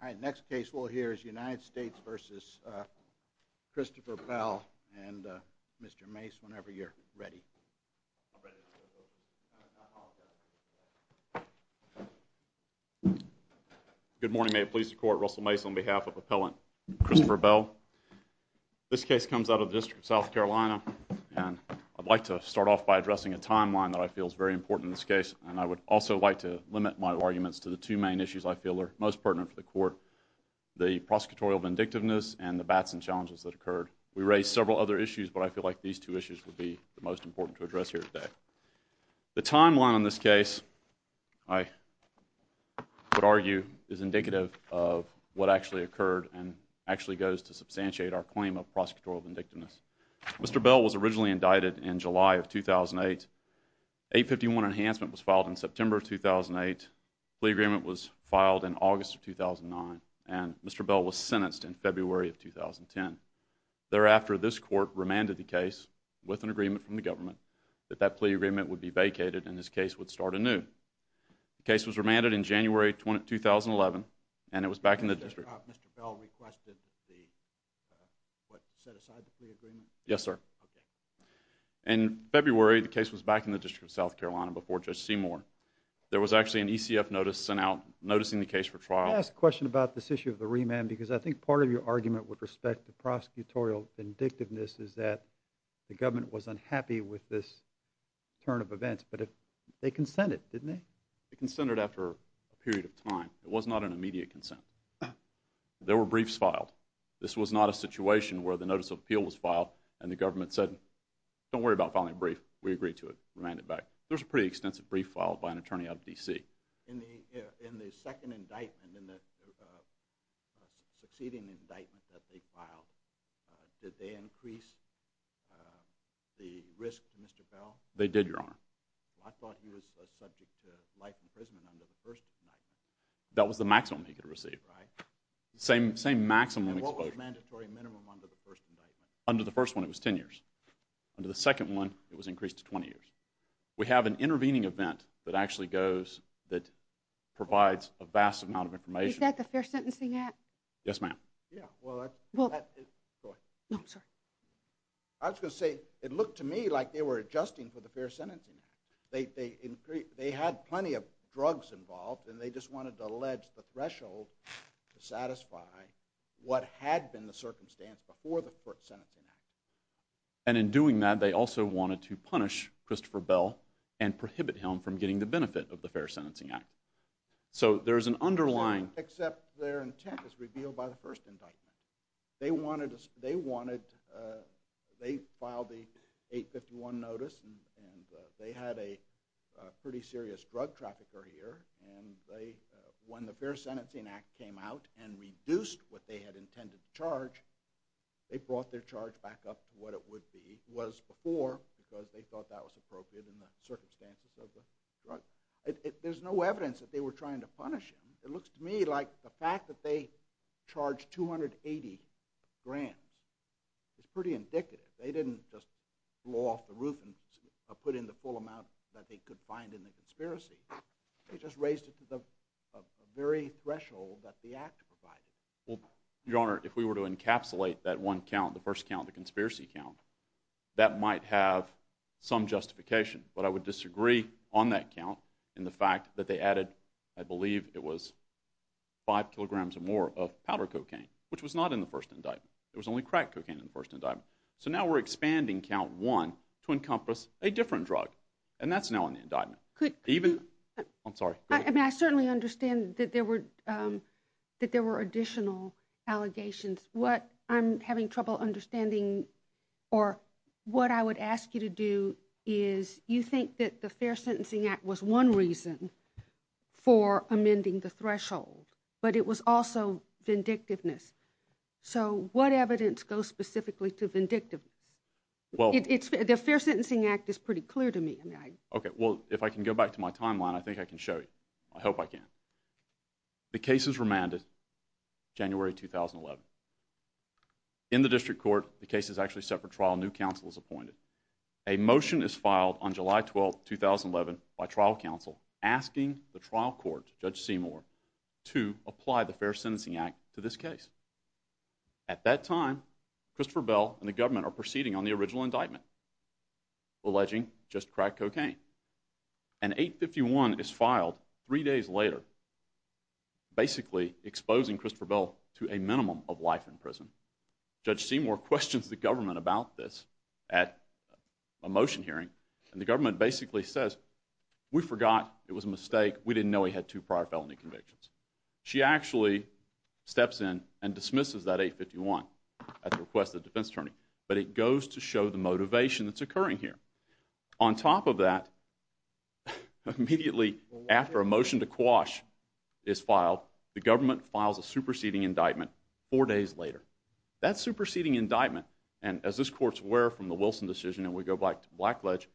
All right, next case we'll hear is United States v. Christopher Bell, and Mr. Mace, whenever you're ready. Good morning. May it please the Court, Russell Mace on behalf of Appellant Christopher Bell. This case comes out of the District of South Carolina, and I'd like to start off by addressing a timeline that I feel is very important in this case. And I would also like to limit my arguments to the two main issues I feel are most pertinent for the Court, the prosecutorial vindictiveness and the bats and challenges that occurred. We raised several other issues, but I feel like these two issues would be the most important to address here today. The timeline on this case, I would argue, is indicative of what actually occurred and actually goes to substantiate our claim of prosecutorial vindictiveness. Mr. Bell was originally indicted in July of 2008. 851 Enhancement was filed in September of 2008. The plea agreement was filed in August of 2009, and Mr. Bell was sentenced in February of 2010. Thereafter, this Court remanded the case with an agreement from the government that that plea agreement would be vacated and this case would start anew. The case was remanded in January 2011, and it was back in the District. Mr. Bell requested what set aside the plea agreement? Yes, sir. In February, the case was back in the District of South Carolina before Judge Seymour. There was actually an ECF notice sent out noticing the case for trial. May I ask a question about this issue of the remand? Because I think part of your argument with respect to prosecutorial vindictiveness is that the government was unhappy with this turn of events, but they consented, didn't they? They consented after a period of time. It was not an immediate consent. There were briefs filed. This was not a situation where the notice of appeal was filed and the government said, don't worry about filing a brief. We agree to it. Remand it back. There was a pretty extensive brief filed by an attorney out of D.C. In the second indictment, in the succeeding indictment that they filed, did they increase the risk to Mr. Bell? They did, Your Honor. I thought he was subject to life imprisonment under the first indictment. That was the maximum he could receive. Same maximum exposure. And what was the mandatory minimum under the first indictment? Under the first one, it was 10 years. Under the second one, it was increased to 20 years. We have an intervening event that actually goes, that provides a vast amount of information. Is that the Fair Sentencing Act? Yes, ma'am. No, I'm sorry. I was going to say, it looked to me like they were adjusting for the Fair Sentencing Act. They had plenty of drugs involved and they just wanted to allege the threshold to satisfy what had been the circumstance before the Fair Sentencing Act. And in doing that, they also wanted to punish Christopher Bell and prohibit him from getting the benefit of the Fair Sentencing Act. So there's an underlying... Except their intent is revealed by the first indictment. They filed the 851 notice and they had a pretty serious drug trafficker here. And when the Fair Sentencing Act came out and reduced what they had intended to charge, they brought their charge back up to what it was before because they thought that was appropriate in the circumstances of the drug. There's no evidence that they were trying to punish him. It looks to me like the fact that they charged 280 grand is pretty indicative. They didn't just blow off the roof and put in the full amount that they could find in the conspiracy. They just raised it to the very threshold that the act provided. Your Honor, if we were to encapsulate that one count, the first count, the conspiracy count, that might have some justification. But I would disagree on that count in the fact that they added, I believe it was five kilograms or more of powder cocaine, which was not in the first indictment. It was only crack cocaine in the first indictment. So now we're expanding count one to encompass a different drug. And that's now in the indictment. I'm sorry. I certainly understand that there were additional allegations. What I'm having trouble understanding, or what I would ask you to do, is you think that the Fair Sentencing Act was one reason for amending the threshold, but it was also vindictiveness. So what evidence goes specifically to vindictiveness? The Fair Sentencing Act is pretty clear to me. Okay, well, if I can go back to my timeline, I think I can show you. I hope I can. The case is remanded January 2011. In the district court, the case is actually set for trial. A new counsel is appointed. A motion is filed on July 12, 2011 by trial counsel asking the trial court, Judge Seymour, to apply the Fair Sentencing Act to this case. At that time, Christopher Bell and the government are proceeding on the original indictment, alleging just crack cocaine. And 851 is filed three days later, basically exposing Christopher Bell to a minimum of life in prison. Judge Seymour questions the government about this at a motion hearing, and the government basically says, we forgot, it was a mistake, we didn't know he had two prior felony convictions. She actually steps in and dismisses that 851 at the request of the defense attorney. But it goes to show the motivation that's occurring here. On top of that, immediately after a motion to quash is filed, the government files a superseding indictment four days later. That superseding indictment, and as this court's aware from the Wilson decision, and we go back to Blackledge,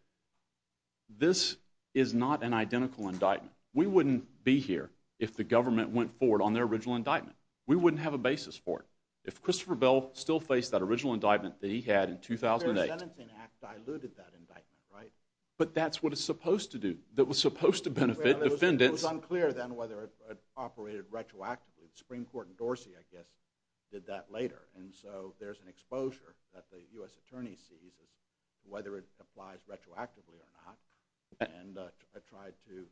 this is not an identical indictment. We wouldn't be here if the government went forward on their original indictment. We wouldn't have a basis for it. If Christopher Bell still faced that original indictment that he had in 2008. The Fair Sentencing Act diluted that indictment, right? But that's what it's supposed to do. It was supposed to benefit defendants. It was unclear then whether it operated retroactively. The Supreme Court in Dorsey, I guess, did that later. And so there's an exposure that the U.S. Attorney sees as to whether it applies retroactively or not, and tried to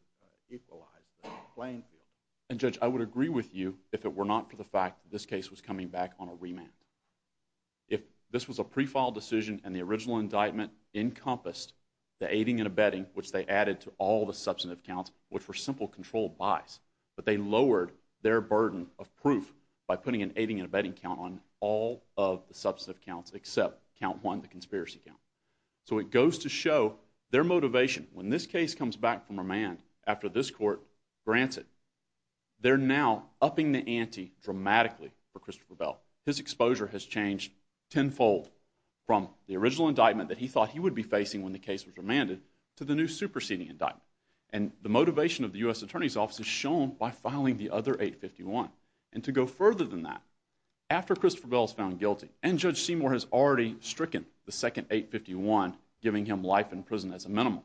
equalize the playing field. And Judge, I would agree with you if it were not for the fact that this case was coming back on a remand. If this was a pre-filed decision and the original indictment encompassed the aiding and abetting, which they added to all the substantive counts, which were simple controlled buys, but they lowered their burden of proof by putting an aiding and abetting count on all of the substantive counts, except count one, the conspiracy count. So it goes to show their motivation. When this case comes back from remand after this court grants it, they're now upping the ante dramatically for Christopher Bell. His exposure has changed tenfold from the original indictment that he thought he would be facing when the case was remanded to the new superseding indictment. And the motivation of the U.S. Attorney's Office is shown by filing the other 851. And to go further than that, after Christopher Bell is found guilty, and Judge Seymour has already stricken the second 851, giving him life in prison as a minimum,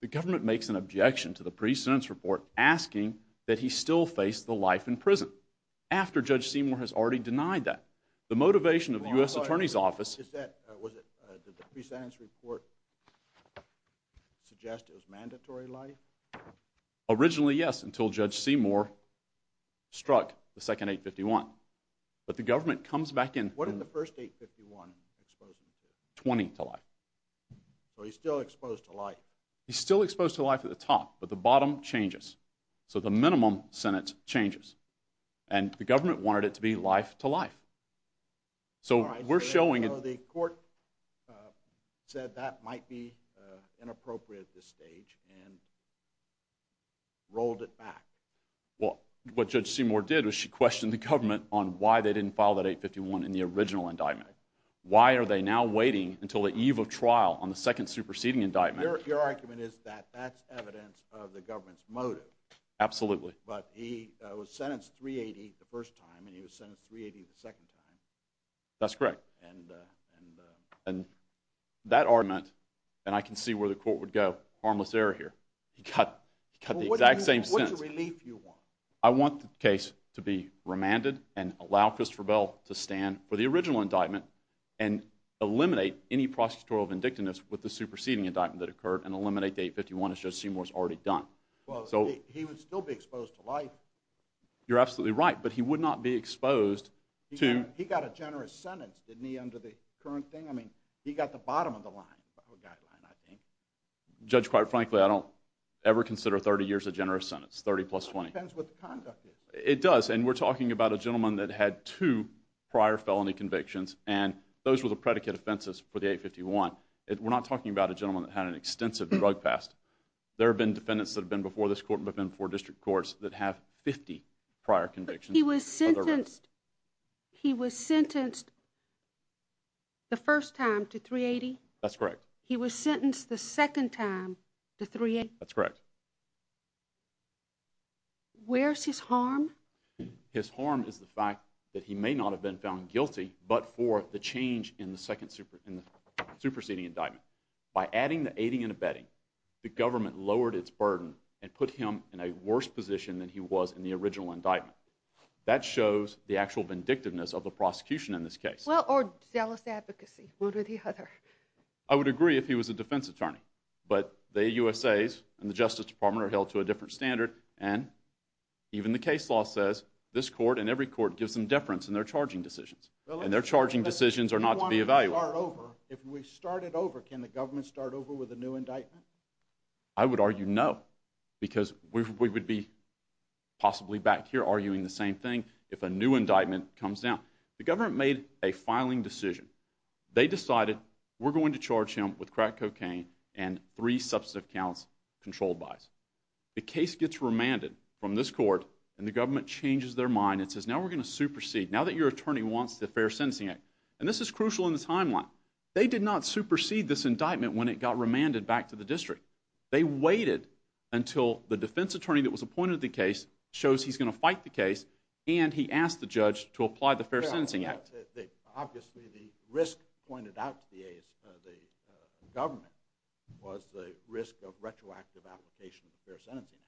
the government makes an objection to the pre-sentence report asking that he still face the life in prison. After Judge Seymour has already denied that. The motivation of the U.S. Attorney's Office... Did the pre-sentence report suggest it was mandatory life? Originally, yes, until Judge Seymour struck the second 851. But the government comes back in... What did the first 851 expose him to? Twenty to life. So he's still exposed to life. He's still exposed to life at the top, but the bottom changes. So the minimum sentence changes. And the government wanted it to be life to life. So we're showing... So the court said that might be inappropriate at this stage and rolled it back. Well, what Judge Seymour did was she questioned the government on why they didn't file that 851 in the original indictment. Why are they now waiting until the eve of trial on the second superseding indictment? Your argument is that that's evidence of the government's motive. Absolutely. But he was sentenced 380 the first time and he was sentenced 380 the second time. That's correct. And that argument... And I can see where the court would go. Harmless error here. He got the exact same sentence. What relief do you want? I want the case to be remanded and allow Christopher Bell to stand for the original indictment and eliminate any prosecutorial vindictiveness with the superseding indictment that occurred and eliminate the 851 as Judge Seymour's already done. Well, he would still be exposed to life. You're absolutely right. But he would not be exposed to... He got a generous sentence, didn't he, under the current thing? I mean, he got the bottom of the line. Judge, quite frankly, I don't ever consider 30 years a generous sentence. 30 plus 20. It depends what the conduct is. It does. And we're talking about a gentleman that had two prior felony convictions and those were the predicate offenses for the 851. We're not talking about a gentleman that had an extensive drug past. There have been defendants that have been before this court and have been before district courts that have 50 prior convictions. But he was sentenced... He was sentenced the first time to 380? That's correct. He was sentenced the second time to 380? That's correct. Where's his harm? His harm is the fact that he may not have been found guilty but for the change in the superseding indictment. By adding the aiding and abetting, the government lowered its burden and put him in a worse position than he was in the original indictment. That shows the actual vindictiveness of the prosecution in this case. Well, or zealous advocacy. One or the other. I would agree if he was a defense attorney. But the USA's and the Justice Department are held to a different standard and even the case law says this court and every court gives them deference in their charging decisions. And their charging decisions are not to be evaluated. If we start it over, can the government start over with a new indictment? I would argue no because we would be possibly back here arguing the same thing if a new indictment comes down. The government made a filing decision. They decided we're going to charge him with crack cocaine and three substantive counts controlled by us. The case gets remanded from this court and the government changes their mind about the Fair Sentencing Act. And this is crucial in the timeline. They did not supersede this indictment when it got remanded back to the district. They waited until the defense attorney that was appointed to the case shows he's going to fight the case and he asked the judge to apply the Fair Sentencing Act. Obviously the risk pointed out to the government was the risk of retroactive application of the Fair Sentencing Act.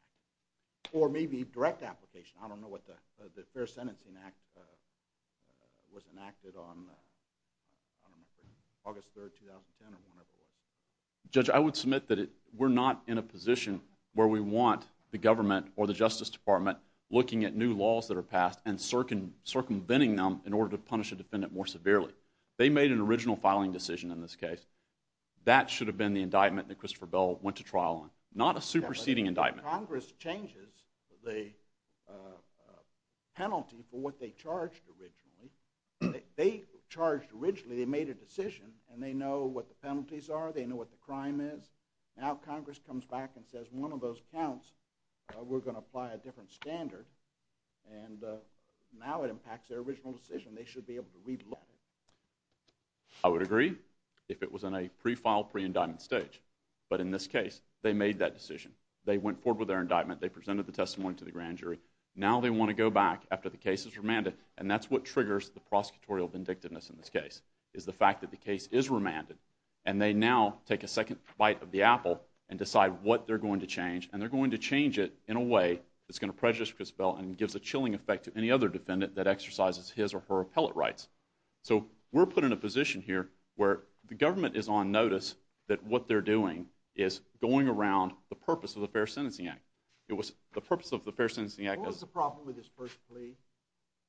Or maybe direct application. I don't know what the Fair Sentencing Act was enacted on August 3, 2010 or whenever it was. Judge, I would submit that we're not in a position where we want the government or the Justice Department looking at new laws that are passed and circumventing them in order to punish a defendant more severely. They made an original filing decision in this case. That should have been the indictment that Christopher Bell went to trial on. Not a superseding indictment. Congress changes the penalty that they charged originally. They charged originally, they made a decision and they know what the penalties are, they know what the crime is. Now Congress comes back and says one of those counts, we're going to apply a different standard and now it impacts their original decision. They should be able to re-look at it. I would agree. If it was in a pre-file, pre-indictment stage. But in this case, they made that decision. They went forward with their indictment. They presented the testimony to the grand jury. And that's what triggers the prosecutorial vindictiveness in this case is the fact that the case is remanded and they now take a second bite of the apple and decide what they're going to change and they're going to change it in a way that's going to prejudice Christopher Bell and gives a chilling effect to any other defendant that exercises his or her appellate rights. So we're put in a position here where the government is on notice that what they're doing is going around the purpose of the Fair Sentencing Act. The purpose of the Fair Sentencing Act is... What was the problem with his first plea?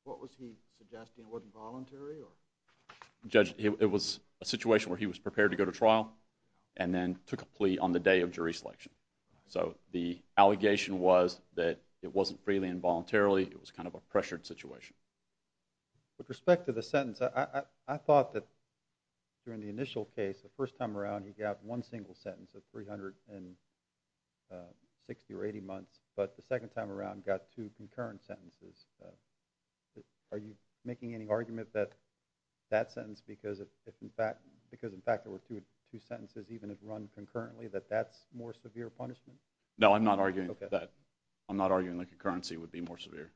Was he suggesting it wasn't voluntary? Judge, it was a situation where he was prepared to go to trial and then took a plea on the day of jury selection. So the allegation was that it wasn't freely and voluntarily. It was kind of a pressured situation. With respect to the sentence, I thought that during the initial case, the first time around, he got one single sentence of 360 or 80 months. But the second time around, he got two concurrent sentences. Are you making any argument that that sentence, because, in fact, there were two sentences even if run concurrently, that that's more severe punishment? No, I'm not arguing that. I'm not arguing that concurrency would be more severe.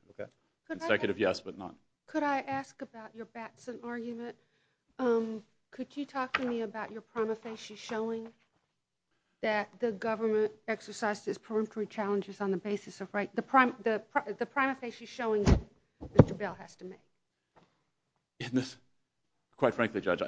Consecutive, yes, but not. Could I ask about your Batson argument? Could you talk to me about your prima facie showing that the government exercised its preemptory challenges on the basis of right... showing that Mr. Bell has to make? Quite frankly, Judge,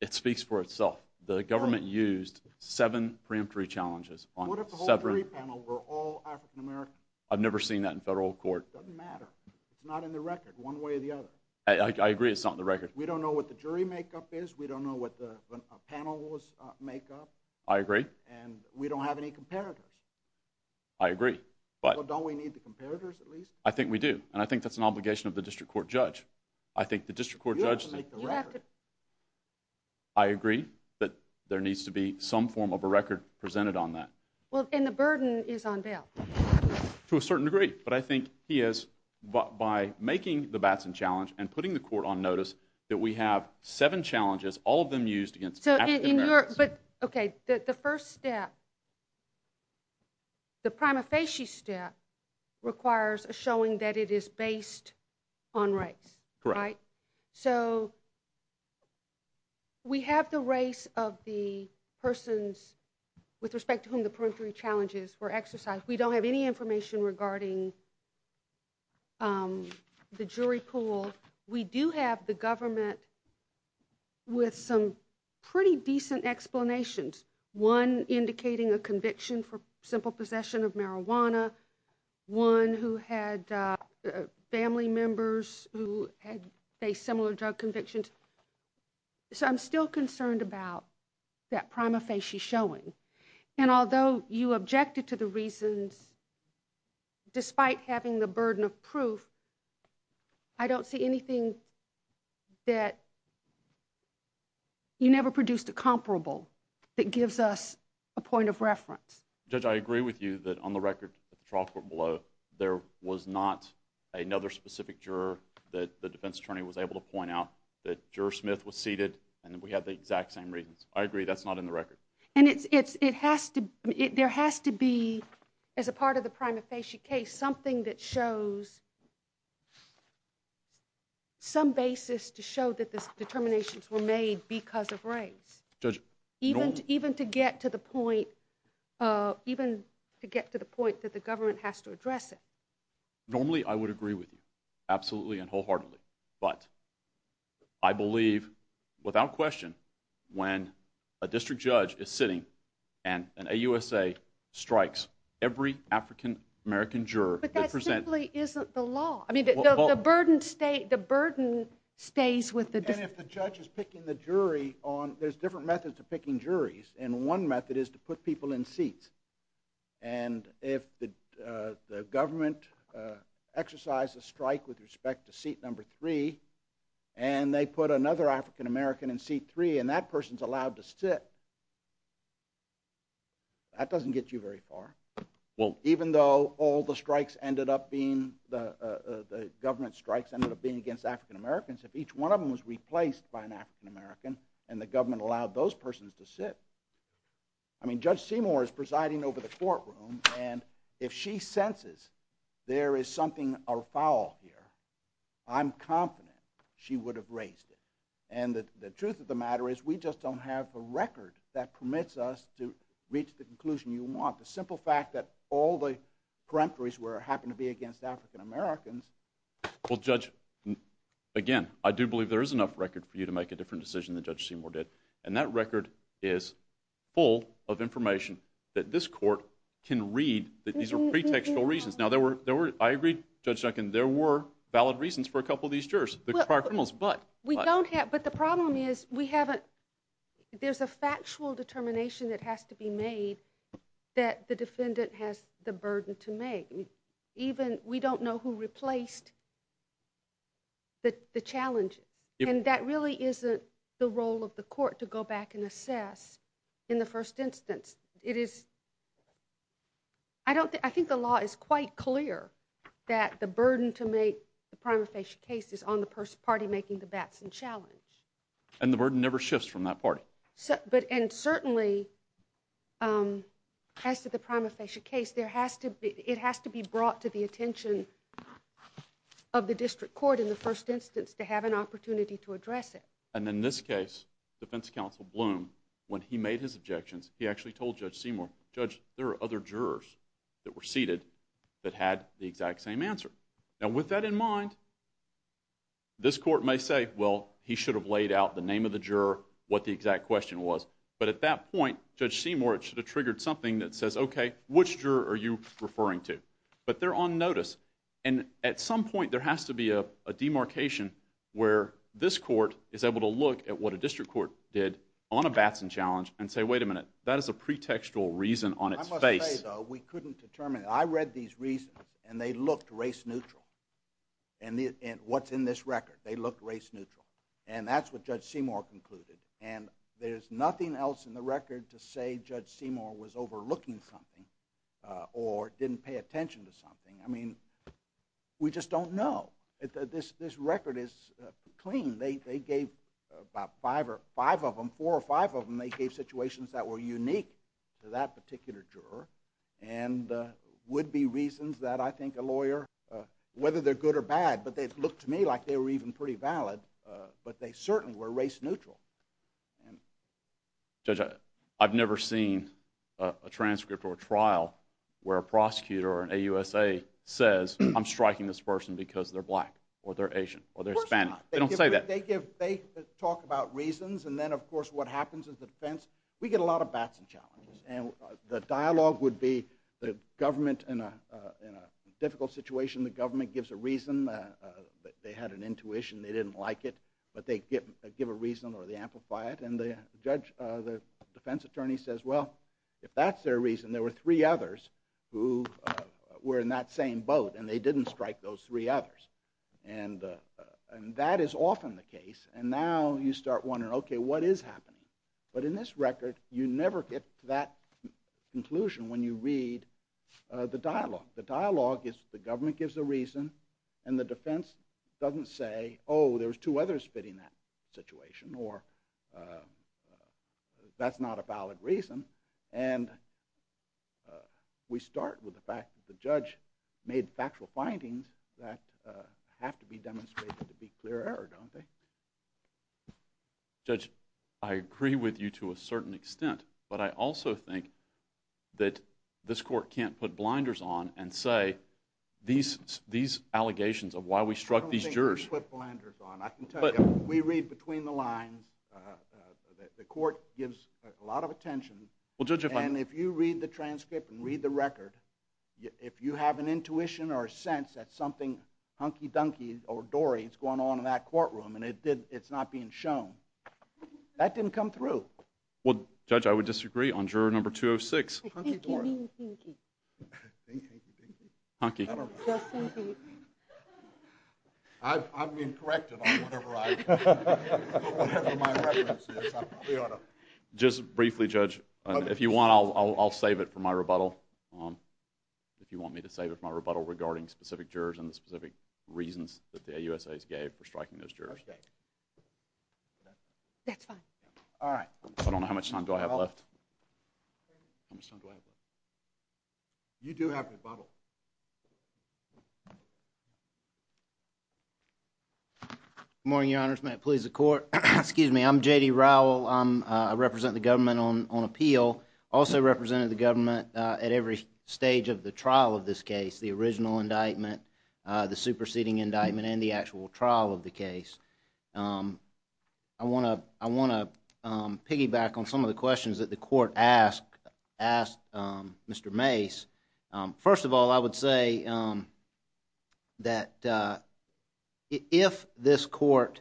it speaks for itself. The government used seven preemptory challenges on seven... What if the whole jury panel were all African-American? I've never seen that in federal court. It doesn't matter. It's not in the record one way or the other. I agree it's not in the record. We don't know what the jury makeup is. We don't know what the panel's makeup. I agree. And we don't have any comparators. And I think that's an obligation of the district court judge. I think the district court judge... You have to make the record. I agree that there needs to be some form of a record presented on that. Well, and the burden is on Bell. To a certain degree, but I think he has, by making the Batson challenge and putting the court on notice that we have seven challenges, all of them used against African-Americans. But, okay, the first step, the prima facie step is based on race, right? Right. So we have the race of the persons with respect to whom the peremptory challenges were exercised. We don't have any information regarding the jury pool. We do have the government with some pretty decent explanations, one indicating a conviction for simple possession of marijuana, one who had family members who had faced similar drug convictions. So I'm still concerned about that prima facie showing. And although you objected to the reasons, despite having the burden of proof, I don't see anything that you never produced a comparable that gives us a point of reference. Judge, I agree with you that the trial court below, there was not another specific juror that the defense attorney was able to point out that Juror Smith was seated and that we had the exact same reasons. I agree that's not in the record. And there has to be, as a part of the prima facie case, something that shows some basis to show that the determinations were made because of race. Judge? Even to get to the point where the government has to address it. Normally, I would agree with you. Absolutely and wholeheartedly. But I believe, without question, when a district judge is sitting and an AUSA strikes every African-American juror that presents... But that simply isn't the law. The burden stays with the... And if the judge is picking the jury on... There's different methods of picking juries. And one method is to put people in seats. And if the government exercises a strike with respect to seat number three and they put another African-American in seat three and that person's allowed to sit, that doesn't get you very far. Well... Even though all the strikes ended up being... The government strikes ended up being against African-Americans. If each one of them was replaced by an African-American and the government allowed those persons to sit... I mean, Judge Seymour is presiding over the courtroom and if she senses there is something afoul here, I'm confident she would have raised it. And the truth of the matter is we just don't have the record that permits us to reach the conclusion you want. The simple fact that all the peremptories happen to be against African-Americans... Well, Judge, again, I do believe there is enough record as Judge Seymour did and that record is full of information that this court can read that these are pretextual reasons. Now, I agree, Judge Duncan, there were valid reasons for a couple of these jurors. But the problem is there's a factual determination that has to be made that the defendant has the burden to make. We don't know who replaced the challenges and that really isn't the role of the court to go back and assess in the first instance. I think the law is quite clear that the burden to make the prima facie case is on the party making the Batson challenge. And the burden never shifts from that party. And certainly, as to the prima facie case, it has to be brought to the attention of the district court in the first instance to have an opportunity to address it. And in this case, Defense Counsel Bloom, when he made his objections, he actually told Judge Seymour, Judge, there are other jurors that were seated that had the exact same answer. Now, with that in mind, this court may say, well, he should have laid out the name of the juror, what the exact question was. And at some point, there has to be a demarcation where this court is able to look at what a district court did on a Batson challenge and say, wait a minute, that is a pretextual reason on its face. I must say, though, we couldn't determine. I read these reasons and they looked race neutral. And what's in this record, they looked race neutral. And that's what Judge Seymour concluded. And there's nothing else in the record to say Judge Seymour was overlooking something or didn't pay attention to something. I mean, we just don't know. This record is clean. They gave about five of them, four or five of them, they gave situations that were unique to that particular juror and would be reasons that I think a lawyer, whether they're good or bad, but they looked to me like they were even pretty valid, but they certainly were race neutral. Judge, I've never seen a transcript or a trial where a prosecutor or an AUSA says, I'm striking this person because they're black or they're Asian or they're Hispanic. They don't say that. They talk about reasons and then of course what happens is the defense, we get a lot of bats and challenges. And the dialogue would be the government in a difficult situation, the government gives a reason, they had an intuition, they didn't like it, but they give a reason or they amplify it. And the defense attorney says, well, if that's their reason, there were three others who were in that same boat and they didn't strike those three others. And that is often the case and now you start wondering, okay, what is happening? But in this record, you never get to that conclusion when you read the dialogue. The dialogue is the government gives a reason and the defense doesn't say, oh, there's two others fitting that situation or that's not a valid reason. And we start with the fact that the judge made factual findings that have to be demonstrated to be clear error, don't they? Judge, I agree with you to a certain extent, but I also think that this court can't put blinders on and say these allegations of why we struck these jurors. I don't think we put blinders on. I can tell you, we read between the lines. The court gives a lot of attention and if you read the transcript and read the record, if you have an intuition or a sense that something hunky-dunky or dory is going on in that courtroom and it's not being shown, that didn't come through. Well, Judge, I would disagree on juror number 206. Hunky-dory. Hunky. I'm being corrected on whatever I, whatever my reference is. Just briefly, Judge, if you want, I'll save it for my rebuttal. If you want me to save it for my rebuttal regarding specific jurors and the specific reasons that the AUSAs gave for striking those jurors. That's fine. All right. I don't know how much time do I have left. How much time do I have left? You do have rebuttal. Good morning, Your Honors. May it please the Court. Excuse me. I'm J.D. Rowell. I represent the government on appeal. I also represent the government at every stage of the trial of this case. The original indictment, the superseding indictment, and the actual trial of the case. I want to piggyback on some of the questions that the Court asked Mr. Mace. First of all, I would say that if this Court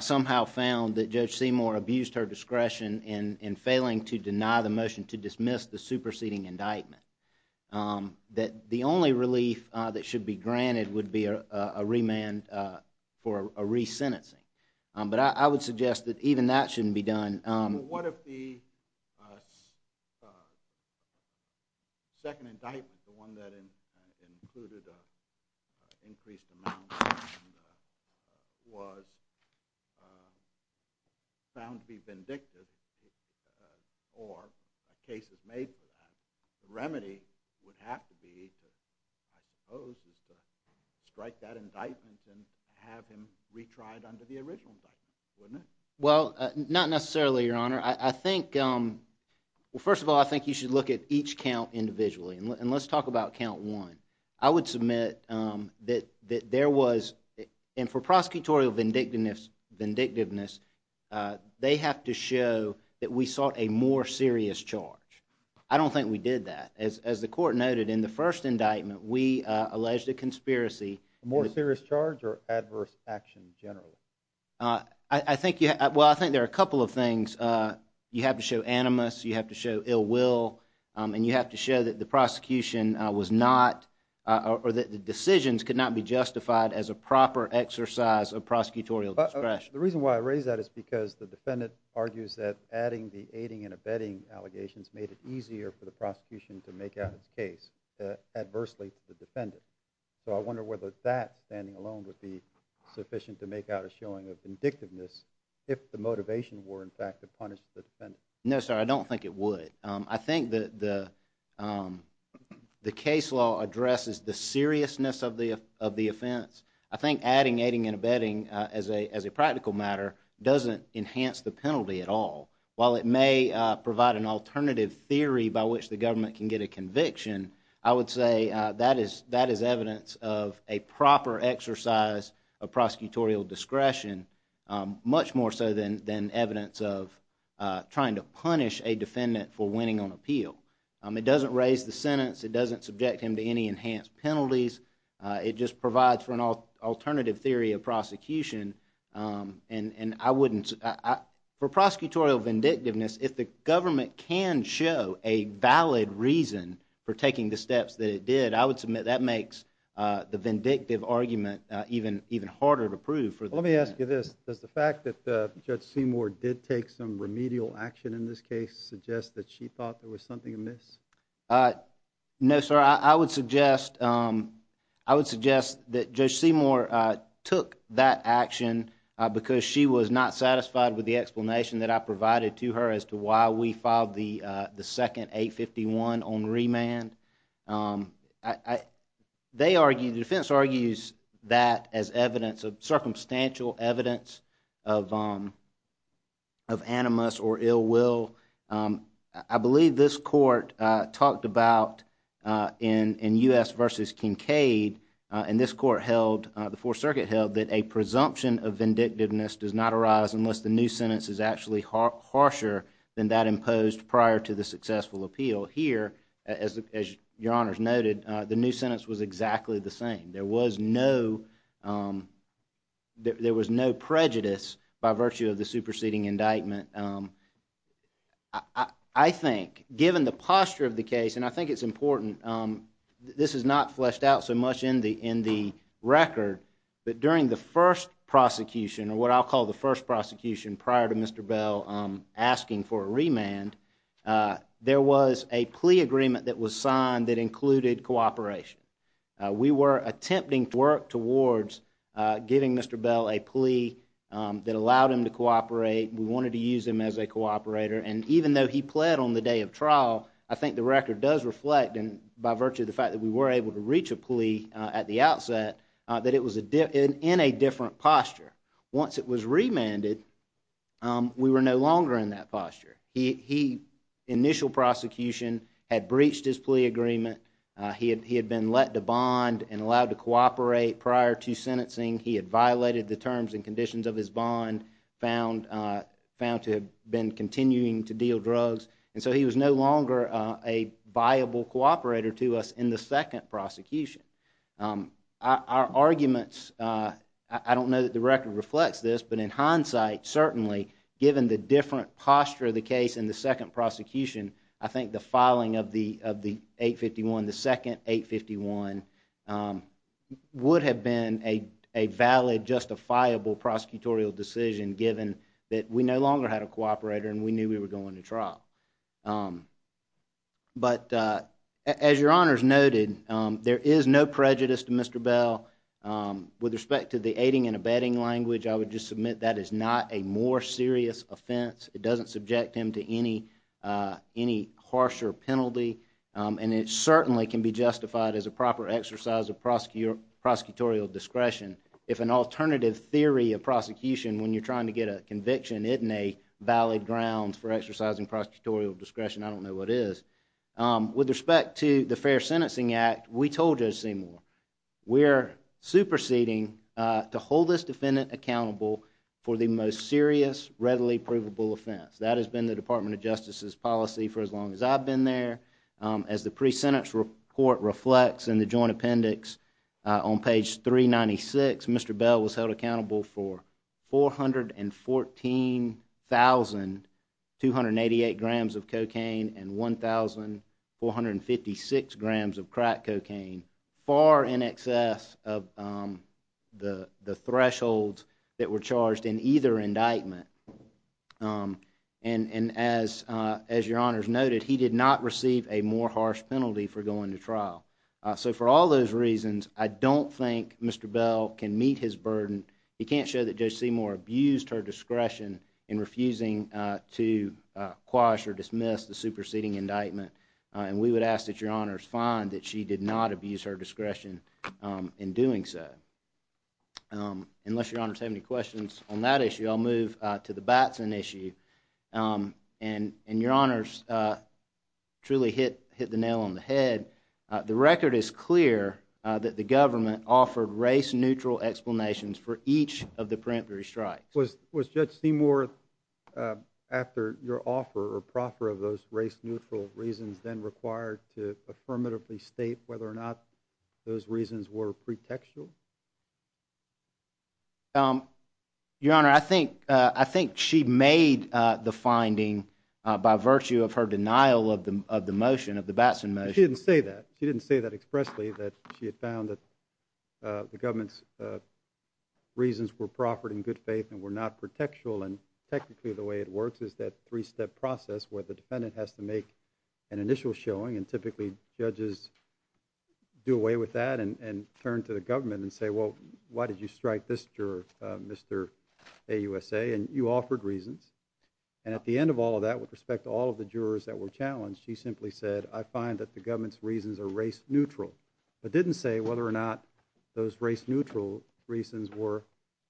somehow found that Judge Seymour abused her discretion in failing to deny the motion to dismiss the superseding indictment, that the only relief that should be granted would be a remand for a resentencing. But I would suggest that even that shouldn't be done. What if the second indictment, the one that included increased amounts was found to be vindictive or a case is made for that? The remedy would have to be I suppose to strike that indictment and have him retried under the original indictment, wouldn't it? Well, not necessarily, Your Honor. I think, well, first of all, I think you should look at each count individually. And let's talk about count one. I would submit that there was, and for prosecutorial vindictiveness, they have to show that we sought a more serious charge. I don't think we did that. As the court noted, in the first indictment, we alleged a conspiracy. A more serious charge or adverse action, generally? I think, well, I think there are a couple of things. You have to show animus, you have to show ill will, and you have to show that the prosecution was not, or that the decisions could not be justified as a proper exercise of prosecutorial discretion. The reason why I raise that is because the defendant argues that adding the aiding and abetting allegations made it easier for the prosecution to make out its case adversely to the defendant. So I wonder whether that standing alone would be sufficient to make out a showing of vindictiveness if the motivation were, in fact, to punish the defendant. No, sir, I don't think it would. I think that the case law addresses the seriousness of the offense. I think adding aiding and abetting as a practical matter doesn't enhance the penalty at all. While it may provide an alternative theory by which the government can get a conviction, I would say that is evidence of a proper exercise of prosecutorial discretion, much more so than evidence of trying to punish a defendant for winning on appeal. It doesn't raise the sentence, it doesn't subject him to any enhanced penalties, it just provides for an alternative theory of prosecution. For prosecutorial vindictiveness, if the government can show a valid reason for taking the steps that it did, I would submit that makes the vindictive argument even harder to prove for the defendant. Let me ask you this, does the fact that Judge Seymour did take some remedial action in this case suggest that she thought there was something amiss? No, sir, I would suggest that Judge Seymour took that action because she was not satisfied with the explanation that I provided to her as to why we filed the second 851 on remand. They argue, the defense argues that as evidence, circumstantial evidence of animus or ill will. I believe this court talked about in U.S. versus Kincaid, and this court held the Fourth Circuit held that a presumption of vindictiveness does not arise unless the new sentence is actually harsher than that imposed prior to the successful appeal. Here, as your honors noted, the new sentence was exactly the same. There was no prejudice by virtue of the superseding indictment. I think given the posture of the case, and I think it's important, this is not fleshed out so much in the record, but during the first prosecution, or what I'll call the first prosecution prior to Mr. Bell asking for a remand, there was a plea agreement that was signed that included cooperation. We were attempting to work towards giving Mr. Bell a plea that allowed him to cooperate. We wanted to use him and even though he pled on the day of trial, I think the record does reflect, and by virtue of the fact that we were able to reach a plea at the outset, that it was in a different posture. Once it was remanded, we were no longer in that posture. Initial prosecution had breached his plea agreement, he had been let to bond and allowed to cooperate prior to sentencing, he had violated the terms and conditions of his bond, found to have been continuing to deal drugs, and so he was no longer a viable cooperator to us in the second prosecution. Our arguments, I don't know that the record reflects this, but in hindsight, certainly, given the different posture of the case in the second prosecution, I think the filing of the 851, the second 851, would have been a valid, justifiable prosecutorial decision given that we no longer had a cooperator and we knew we were going to trial. But, as your honors noted, there is no prejudice to Mr. Bell. With respect to the aiding and abetting language, I would just submit that is not a more serious offense. It doesn't subject him to any harsher penalty and it certainly can be justified as a proper exercise of prosecutorial discretion. If an alternative theory of prosecution, when you're trying to get a conviction, isn't a valid ground for exercising prosecutorial discretion, I don't know what is. With respect to the Fair Sentencing Act, we told Judge Seymour, we're superseding to hold this defendant accountable for the most serious, readily provable offense. That has been the Department of Justice's policy for as long as I've been there. As the pre-sentence report reflects in the joint appendix on page 396, Mr. Bell was held accountable for 414,288 grams of cocaine and 1,456 grams of crack cocaine, far in excess of the thresholds that were charged in either indictment. And as your honors noted, he did not receive a more harsh penalty for going to trial. So for all those reasons, I don't think Mr. Bell can meet his burden. He can't show that Judge Seymour abused her discretion in refusing to quash or dismiss the superseding indictment and we would ask that your honors find that she did not abuse her discretion in doing so. Unless your honors have any questions on that issue, I'll move to the Batson issue. And your honors truly hit the nail on the head. The record is clear that the government offered race-neutral explanations for each of the preemptory strikes. Was Judge Seymour after your offer or proffer of those race-neutral reasons then required to affirmatively state whether or not those reasons were pretextual? Your honor, I think she made the finding by virtue of her denial of the motion, of the Batson motion. She didn't say that. She didn't say that expressly that she had found reasons were proffered in good faith and were not pretextual and technically the way it works is that three-step process where the defendant has to make an initial showing and typically judges do away with that and turn to the government and say, well, why did you strike this juror, Mr. AUSA? And you offered reasons and at the end of all of that with respect to all of the jurors that were challenged, she simply said, I find that the government's reasons are race-neutral. But didn't say whether or not those race-neutral reasons were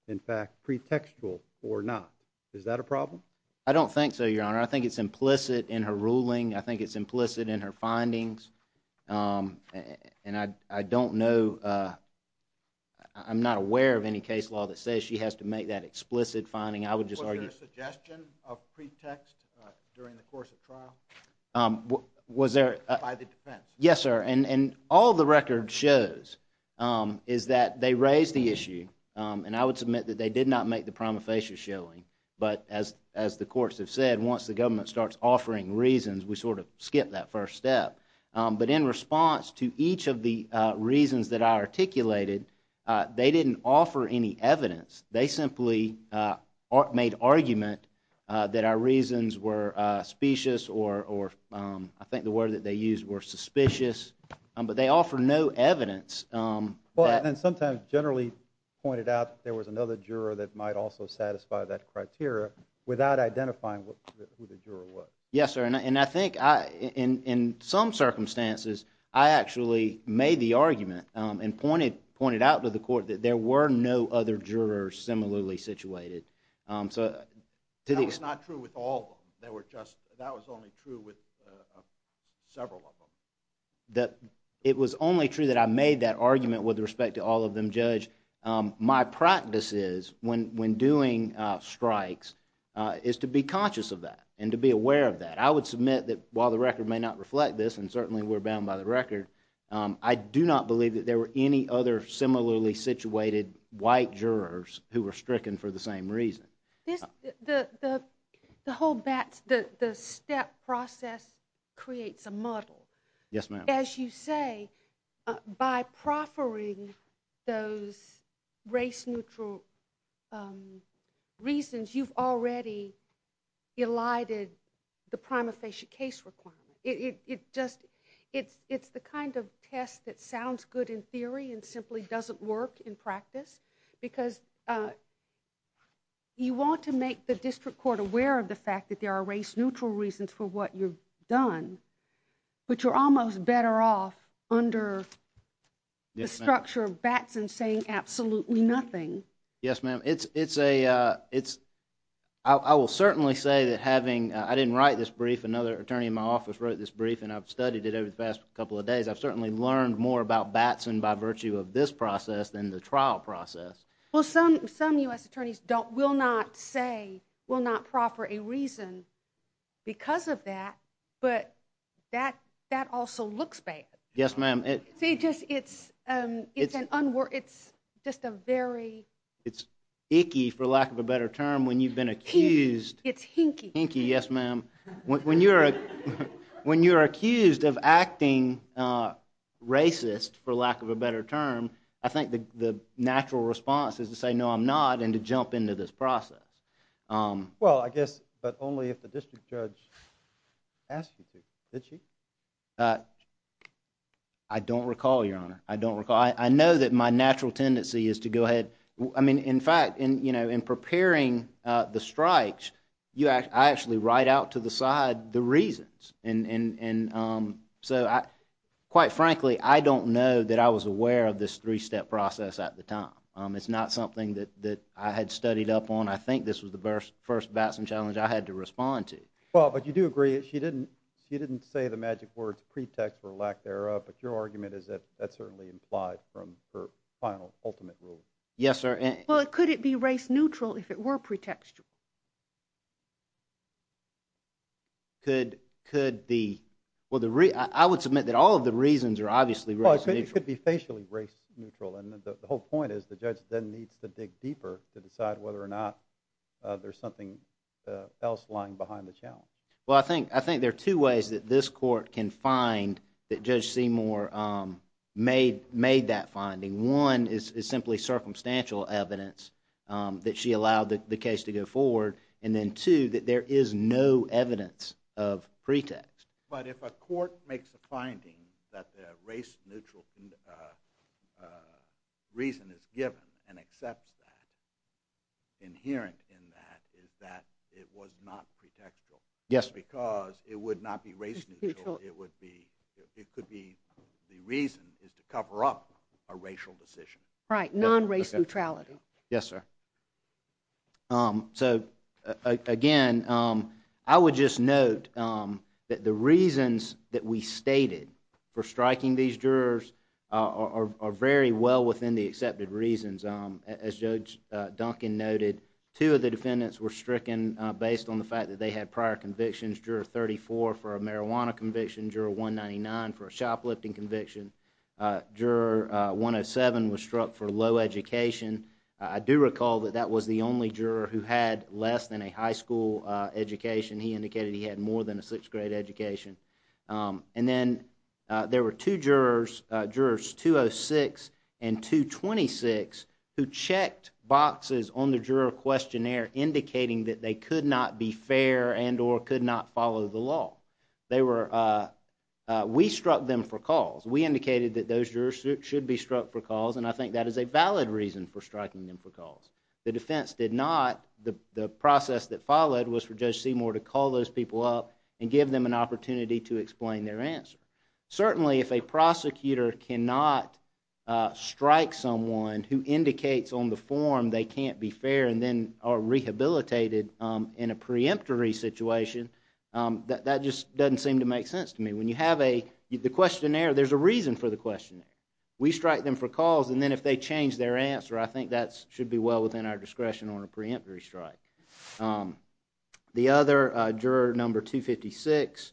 in fact pretextual or not. Is that a problem? I don't think so, your honor. I think it's implicit in her ruling. I think it's implicit in her findings. And I don't know, I'm not aware of any case law that says she has to make that explicit finding. I would just argue... Was there a suggestion of pretext during the course of trial? Was there... By the defense. Yes, sir. And all the record shows is that they raised the issue and I would submit that they did not make the prima facie showing. But as the courts have said, once the government starts offering reasons, we sort of skip that first step. But in response to each of the reasons that I articulated, they didn't offer any evidence. They simply made argument that our reasons were specious or I think the word that they used were suspicious. But they offer no evidence. And sometimes generally pointed out there was another juror that might also satisfy that criteria without identifying who the juror was. Yes, sir. And I think in some circumstances I actually made the argument and pointed out to the court that there were no other jurors similarly situated. That was not true with all of them. That was only true with several of them. It was only true that I made that argument with respect to all of them, Judge. My practice is when doing strikes is to be conscious of that and to be aware of that. I would submit that while the record may not reflect this and certainly we're bound by the record, I do not believe that there were any other similarly situated white jurors who were stricken for the same reason. The whole bat, the step process creates a muddle. Yes, ma'am. As you say, by proffering those race neutral reasons, you've already elided the prima facie case requirement. It's the kind of test that sounds good in theory and simply doesn't work in practice because you want to make the district court aware of the fact that there are race neutral reasons for what you've done but you're almost better off under the structure of Batson saying absolutely nothing. Yes, ma'am. I will certainly say that having, I didn't write this brief, another attorney in my office wrote this brief and I've studied it over the past couple of days. I've certainly learned more about Batson by virtue of this process than the trial process. Well, some U.S. attorneys will not say, will not proffer a reason because of that but that also looks bad. Yes, ma'am. See, just, it's it's just a very It's icky, for lack of a better term, when you've been accused It's hinky. Hinky, yes, ma'am. When you're When you're accused of acting racist, for lack of a better term, I think the natural response is to say, no, I'm not and to jump into this process. Well, I guess but only if the district judge asked you to. Did she? I don't recall, Your Honor. I don't recall. I know that my natural tendency is to go ahead I mean, in fact, in preparing the strikes, I actually write out to the side the reasons and so, quite frankly, I don't know that I was aware of this three-step process at the time. It's not something that I had studied up on. I think this was the first Batson challenge I had to respond to. Well, but you do agree that she didn't she didn't say the magic words pretext or lack thereof but your argument is that that's certainly implied from her final, ultimate rule. Yes, sir. Well, could it be race-neutral if it were pretextual? could the well, the I would submit that all of the reasons are obviously race-neutral. Well, it could be facially race-neutral and the whole point is the judge then needs to dig deeper to decide whether or not there's something else lying behind the challenge. Well, I think I think there are two ways that this court can find that Judge Seymour made that finding. One is simply circumstantial evidence that she allowed the case to go forward and then two that there is no evidence of pretext. But if a court makes a finding that the race-neutral reason is given and accepts that inherent in that is that it was not pretextual. Yes. Because it would not be race-neutral it would be it could be the reason is to cover up a racial decision. Right. Non-race neutrality. Yes, sir. So, again I would just note that the reasons that we stated for striking these jurors are very well within the accepted reasons. As Judge Duncan noted two of the defendants were stricken based on the fact that they had prior convictions. Juror 34 for a marijuana conviction. Juror 199 for a shoplifting conviction. Juror 107 was struck for low education. I do recall that that was the only juror who had less than a high school education. He indicated he had more than a 6th grade education. And then there were two jurors jurors 206 and 226 who checked boxes on the juror questionnaire indicating that they could not be fair and or could not follow the law. They were we struck them for cause. We indicated that those jurors should be struck for cause and I think that is a valid reason for striking them for cause. The defense did not. The process that followed was for Judge Seymour to call those people up and give them an opportunity to explain their answer. Certainly if a prosecutor cannot strike someone who indicates on the form they can't be fair and then are rehabilitated in a preemptory situation that just doesn't seem to make sense to me. When you have a the questionnaire there is a reason for the questionnaire. We strike them for cause and then if they change their answer I think that should be well within our discretion on a preemptory strike. The other juror number 256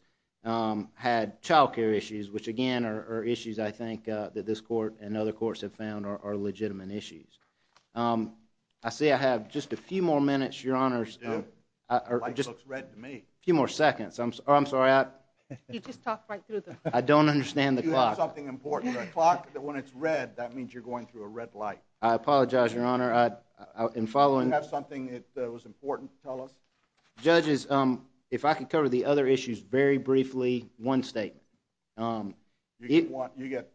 had child care issues which again are issues I think that this court and other courts have found are legitimate issues. I see I have just a few more minutes Your Honor. The light looks red to me. A few more seconds. I'm sorry. You just talked right through them. I don't understand the clock. You have something important in the clock that when it's red that means you're going through a red light. I apologize Your Honor. You have something that was important to tell us? Judges if I could cover the other issues very briefly one statement. You get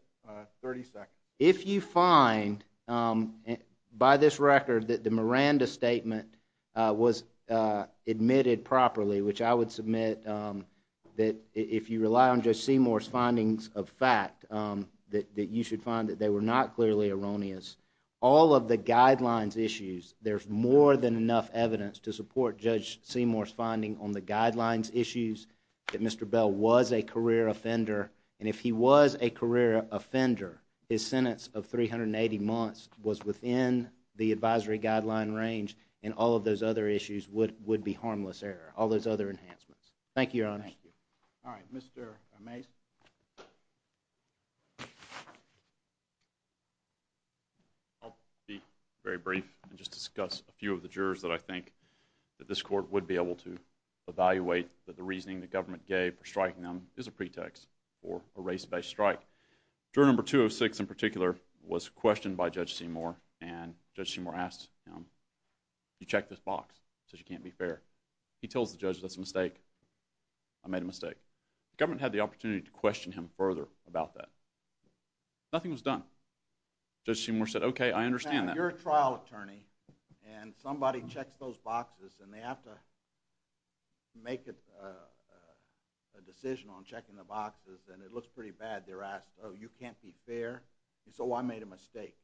30 seconds. If you find by this record that the Miranda statement was admitted properly which I would submit that if you rely on Judge Seymour's findings of fact that you should find that they were not clearly erroneous all of the guidelines issues there's more than enough evidence to support Judge Seymour's finding on the guidelines issues that Mr. Bell was a career offender and if he was a career offender his sentence of 380 months was within the advisory guideline range and all of those other issues would be harmless error all those other enhancements. Thank you Your Honor. Thank you. Alright Mr. Mase. I'll be very brief and just discuss a few of the jurors that I think that this court would be able to evaluate that the reasoning the government gave for striking them is a pretext for a race based strike. Juror number 206 in particular was questioned by Judge Seymour and Judge Seymour asked him you checked this box it says you can't be fair. He tells the judge that's a mistake I made a mistake. The government had the opportunity to question him further about that. Nothing was done. Judge Seymour said okay I understand that. You're a trial attorney and somebody checks those boxes and they have to make a decision on checking the boxes and it looks pretty bad they're asked you can't be fair so I made a mistake.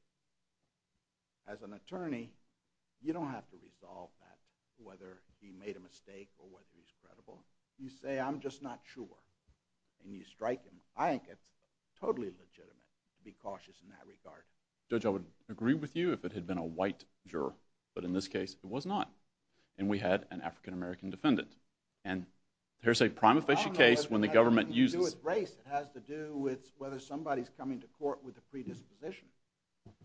As an attorney you don't have to resolve that whether he made a mistake or whether he's credible. You say I'm just not sure and you strike him. I think it's totally legitimate to be cautious in that regard. Judge I would agree with you if it had been a white juror but in this case it was not and we had an African American defendant and here's a prima facie case when the government uses It has to do with race. It has to do with whether somebody's coming to court with a predisposition.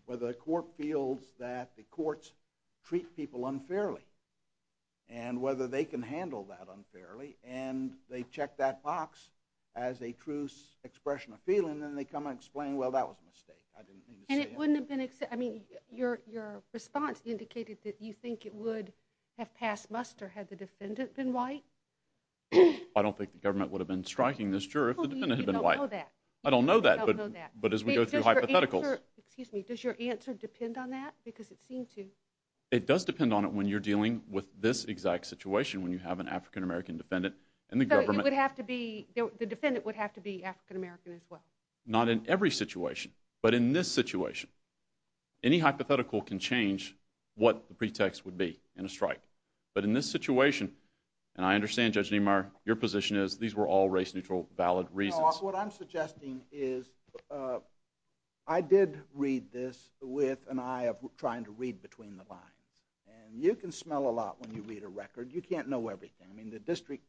Whether the court feels that the courts treat people unfairly and whether they can handle that unfairly and they check that box as a true expression of feeling and then they come and explain well that was a mistake. I didn't mean to say that. Your response indicated that you think it would have passed muster had the defendant been white. I don't think the government would have been striking this juror if the defendant had been white. You don't know that. I don't know that but as we go through hypotheticals. Excuse me. Does your answer depend on that? Because it seemed to. It does depend on it when you're dealing with this exact situation when you have an African American defendant and the government. The defendant would have to be African American as well. Not in every situation but in this situation. Any hypothetical can change what the pretext would be in a strike but in this situation and I understand Judge Niemeyer your position is these were all race neutral valid reasons. What I'm suggesting is I did read this with an eye of trying to read between the lines and you can smell a lot when you read a record. You can't know everything. I mean the district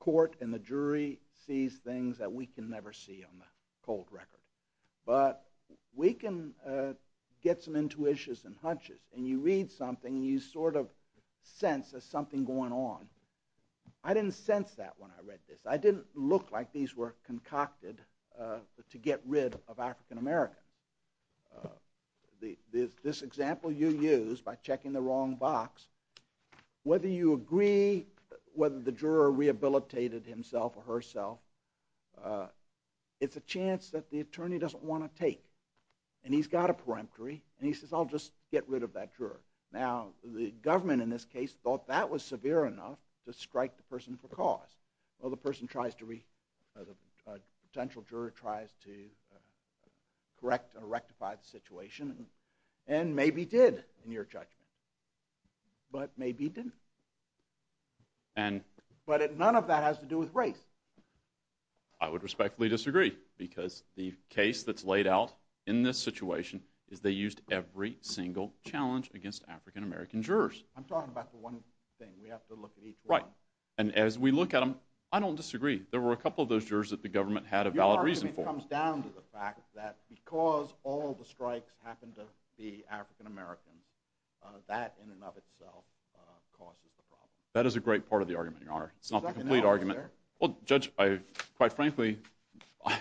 court and the jury sees things that we can never see on the cold record. But we can get some intuitions and hunches and you read something and you sort of sense there's something going on. I didn't sense that when I read this. I didn't look like these were concocted to get rid of African American. This example you used by checking the wrong box whether you agree whether the juror rehabilitated himself or herself it's a chance that the attorney doesn't want to take and he's got a peremptory and he says I'll just get rid of that juror. Now the government in this case thought that was severe enough to strike the person for cause. Well the person tries to the potential juror tries to correct or rectify the situation and maybe did in your judgment. But maybe didn't. But none of that has to do with race. I would respectfully disagree because the case that's laid out in this situation is they used every single challenge against African American jurors. I'm talking about the one thing we have to look at each one. Right. And as we look at them I don't disagree. There were a couple of those jurors that the government had a valid reason for. Your argument comes down to the fact that because all the strikes happened to be African American that in and of itself causes the problem. That is a great part of the argument your honor. It's not the complete argument. Well judge I quite frankly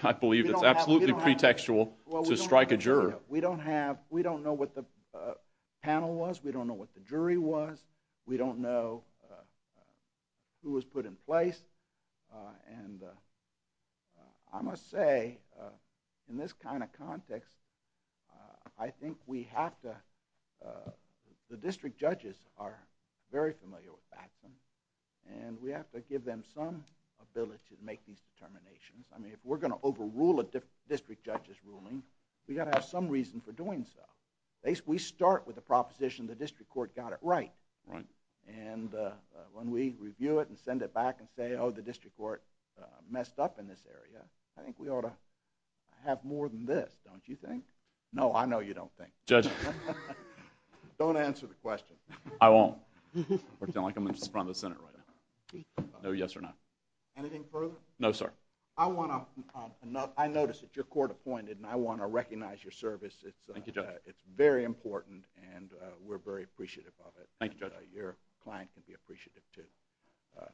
I believe it's absolutely pretextual to strike a juror. We don't have we don't know what the panel was we don't know what the jury was we don't know who was put in place and I must say in this kind of context I think we have to the district judges are very familiar with Batson and we have to give them some ability to make these determinations. I mean if we're going to overrule a district judge's ruling we've got to have some reason for doing so. We start with the proposition the district court got it right. Right. And when we review it and send it back and say oh the district court messed up in this area I think we ought to have more than this don't you think? No I know you don't think. Judge. Don't answer the question. I won't. I sound like I'm in front of the Senate right now. No yes or no. Anything further? No sir. I want to I notice that your court appointed and I want to recognize your service. Thank you judge. It's very important and we're very appreciative of it. Thank you judge. Your client can be appreciative too.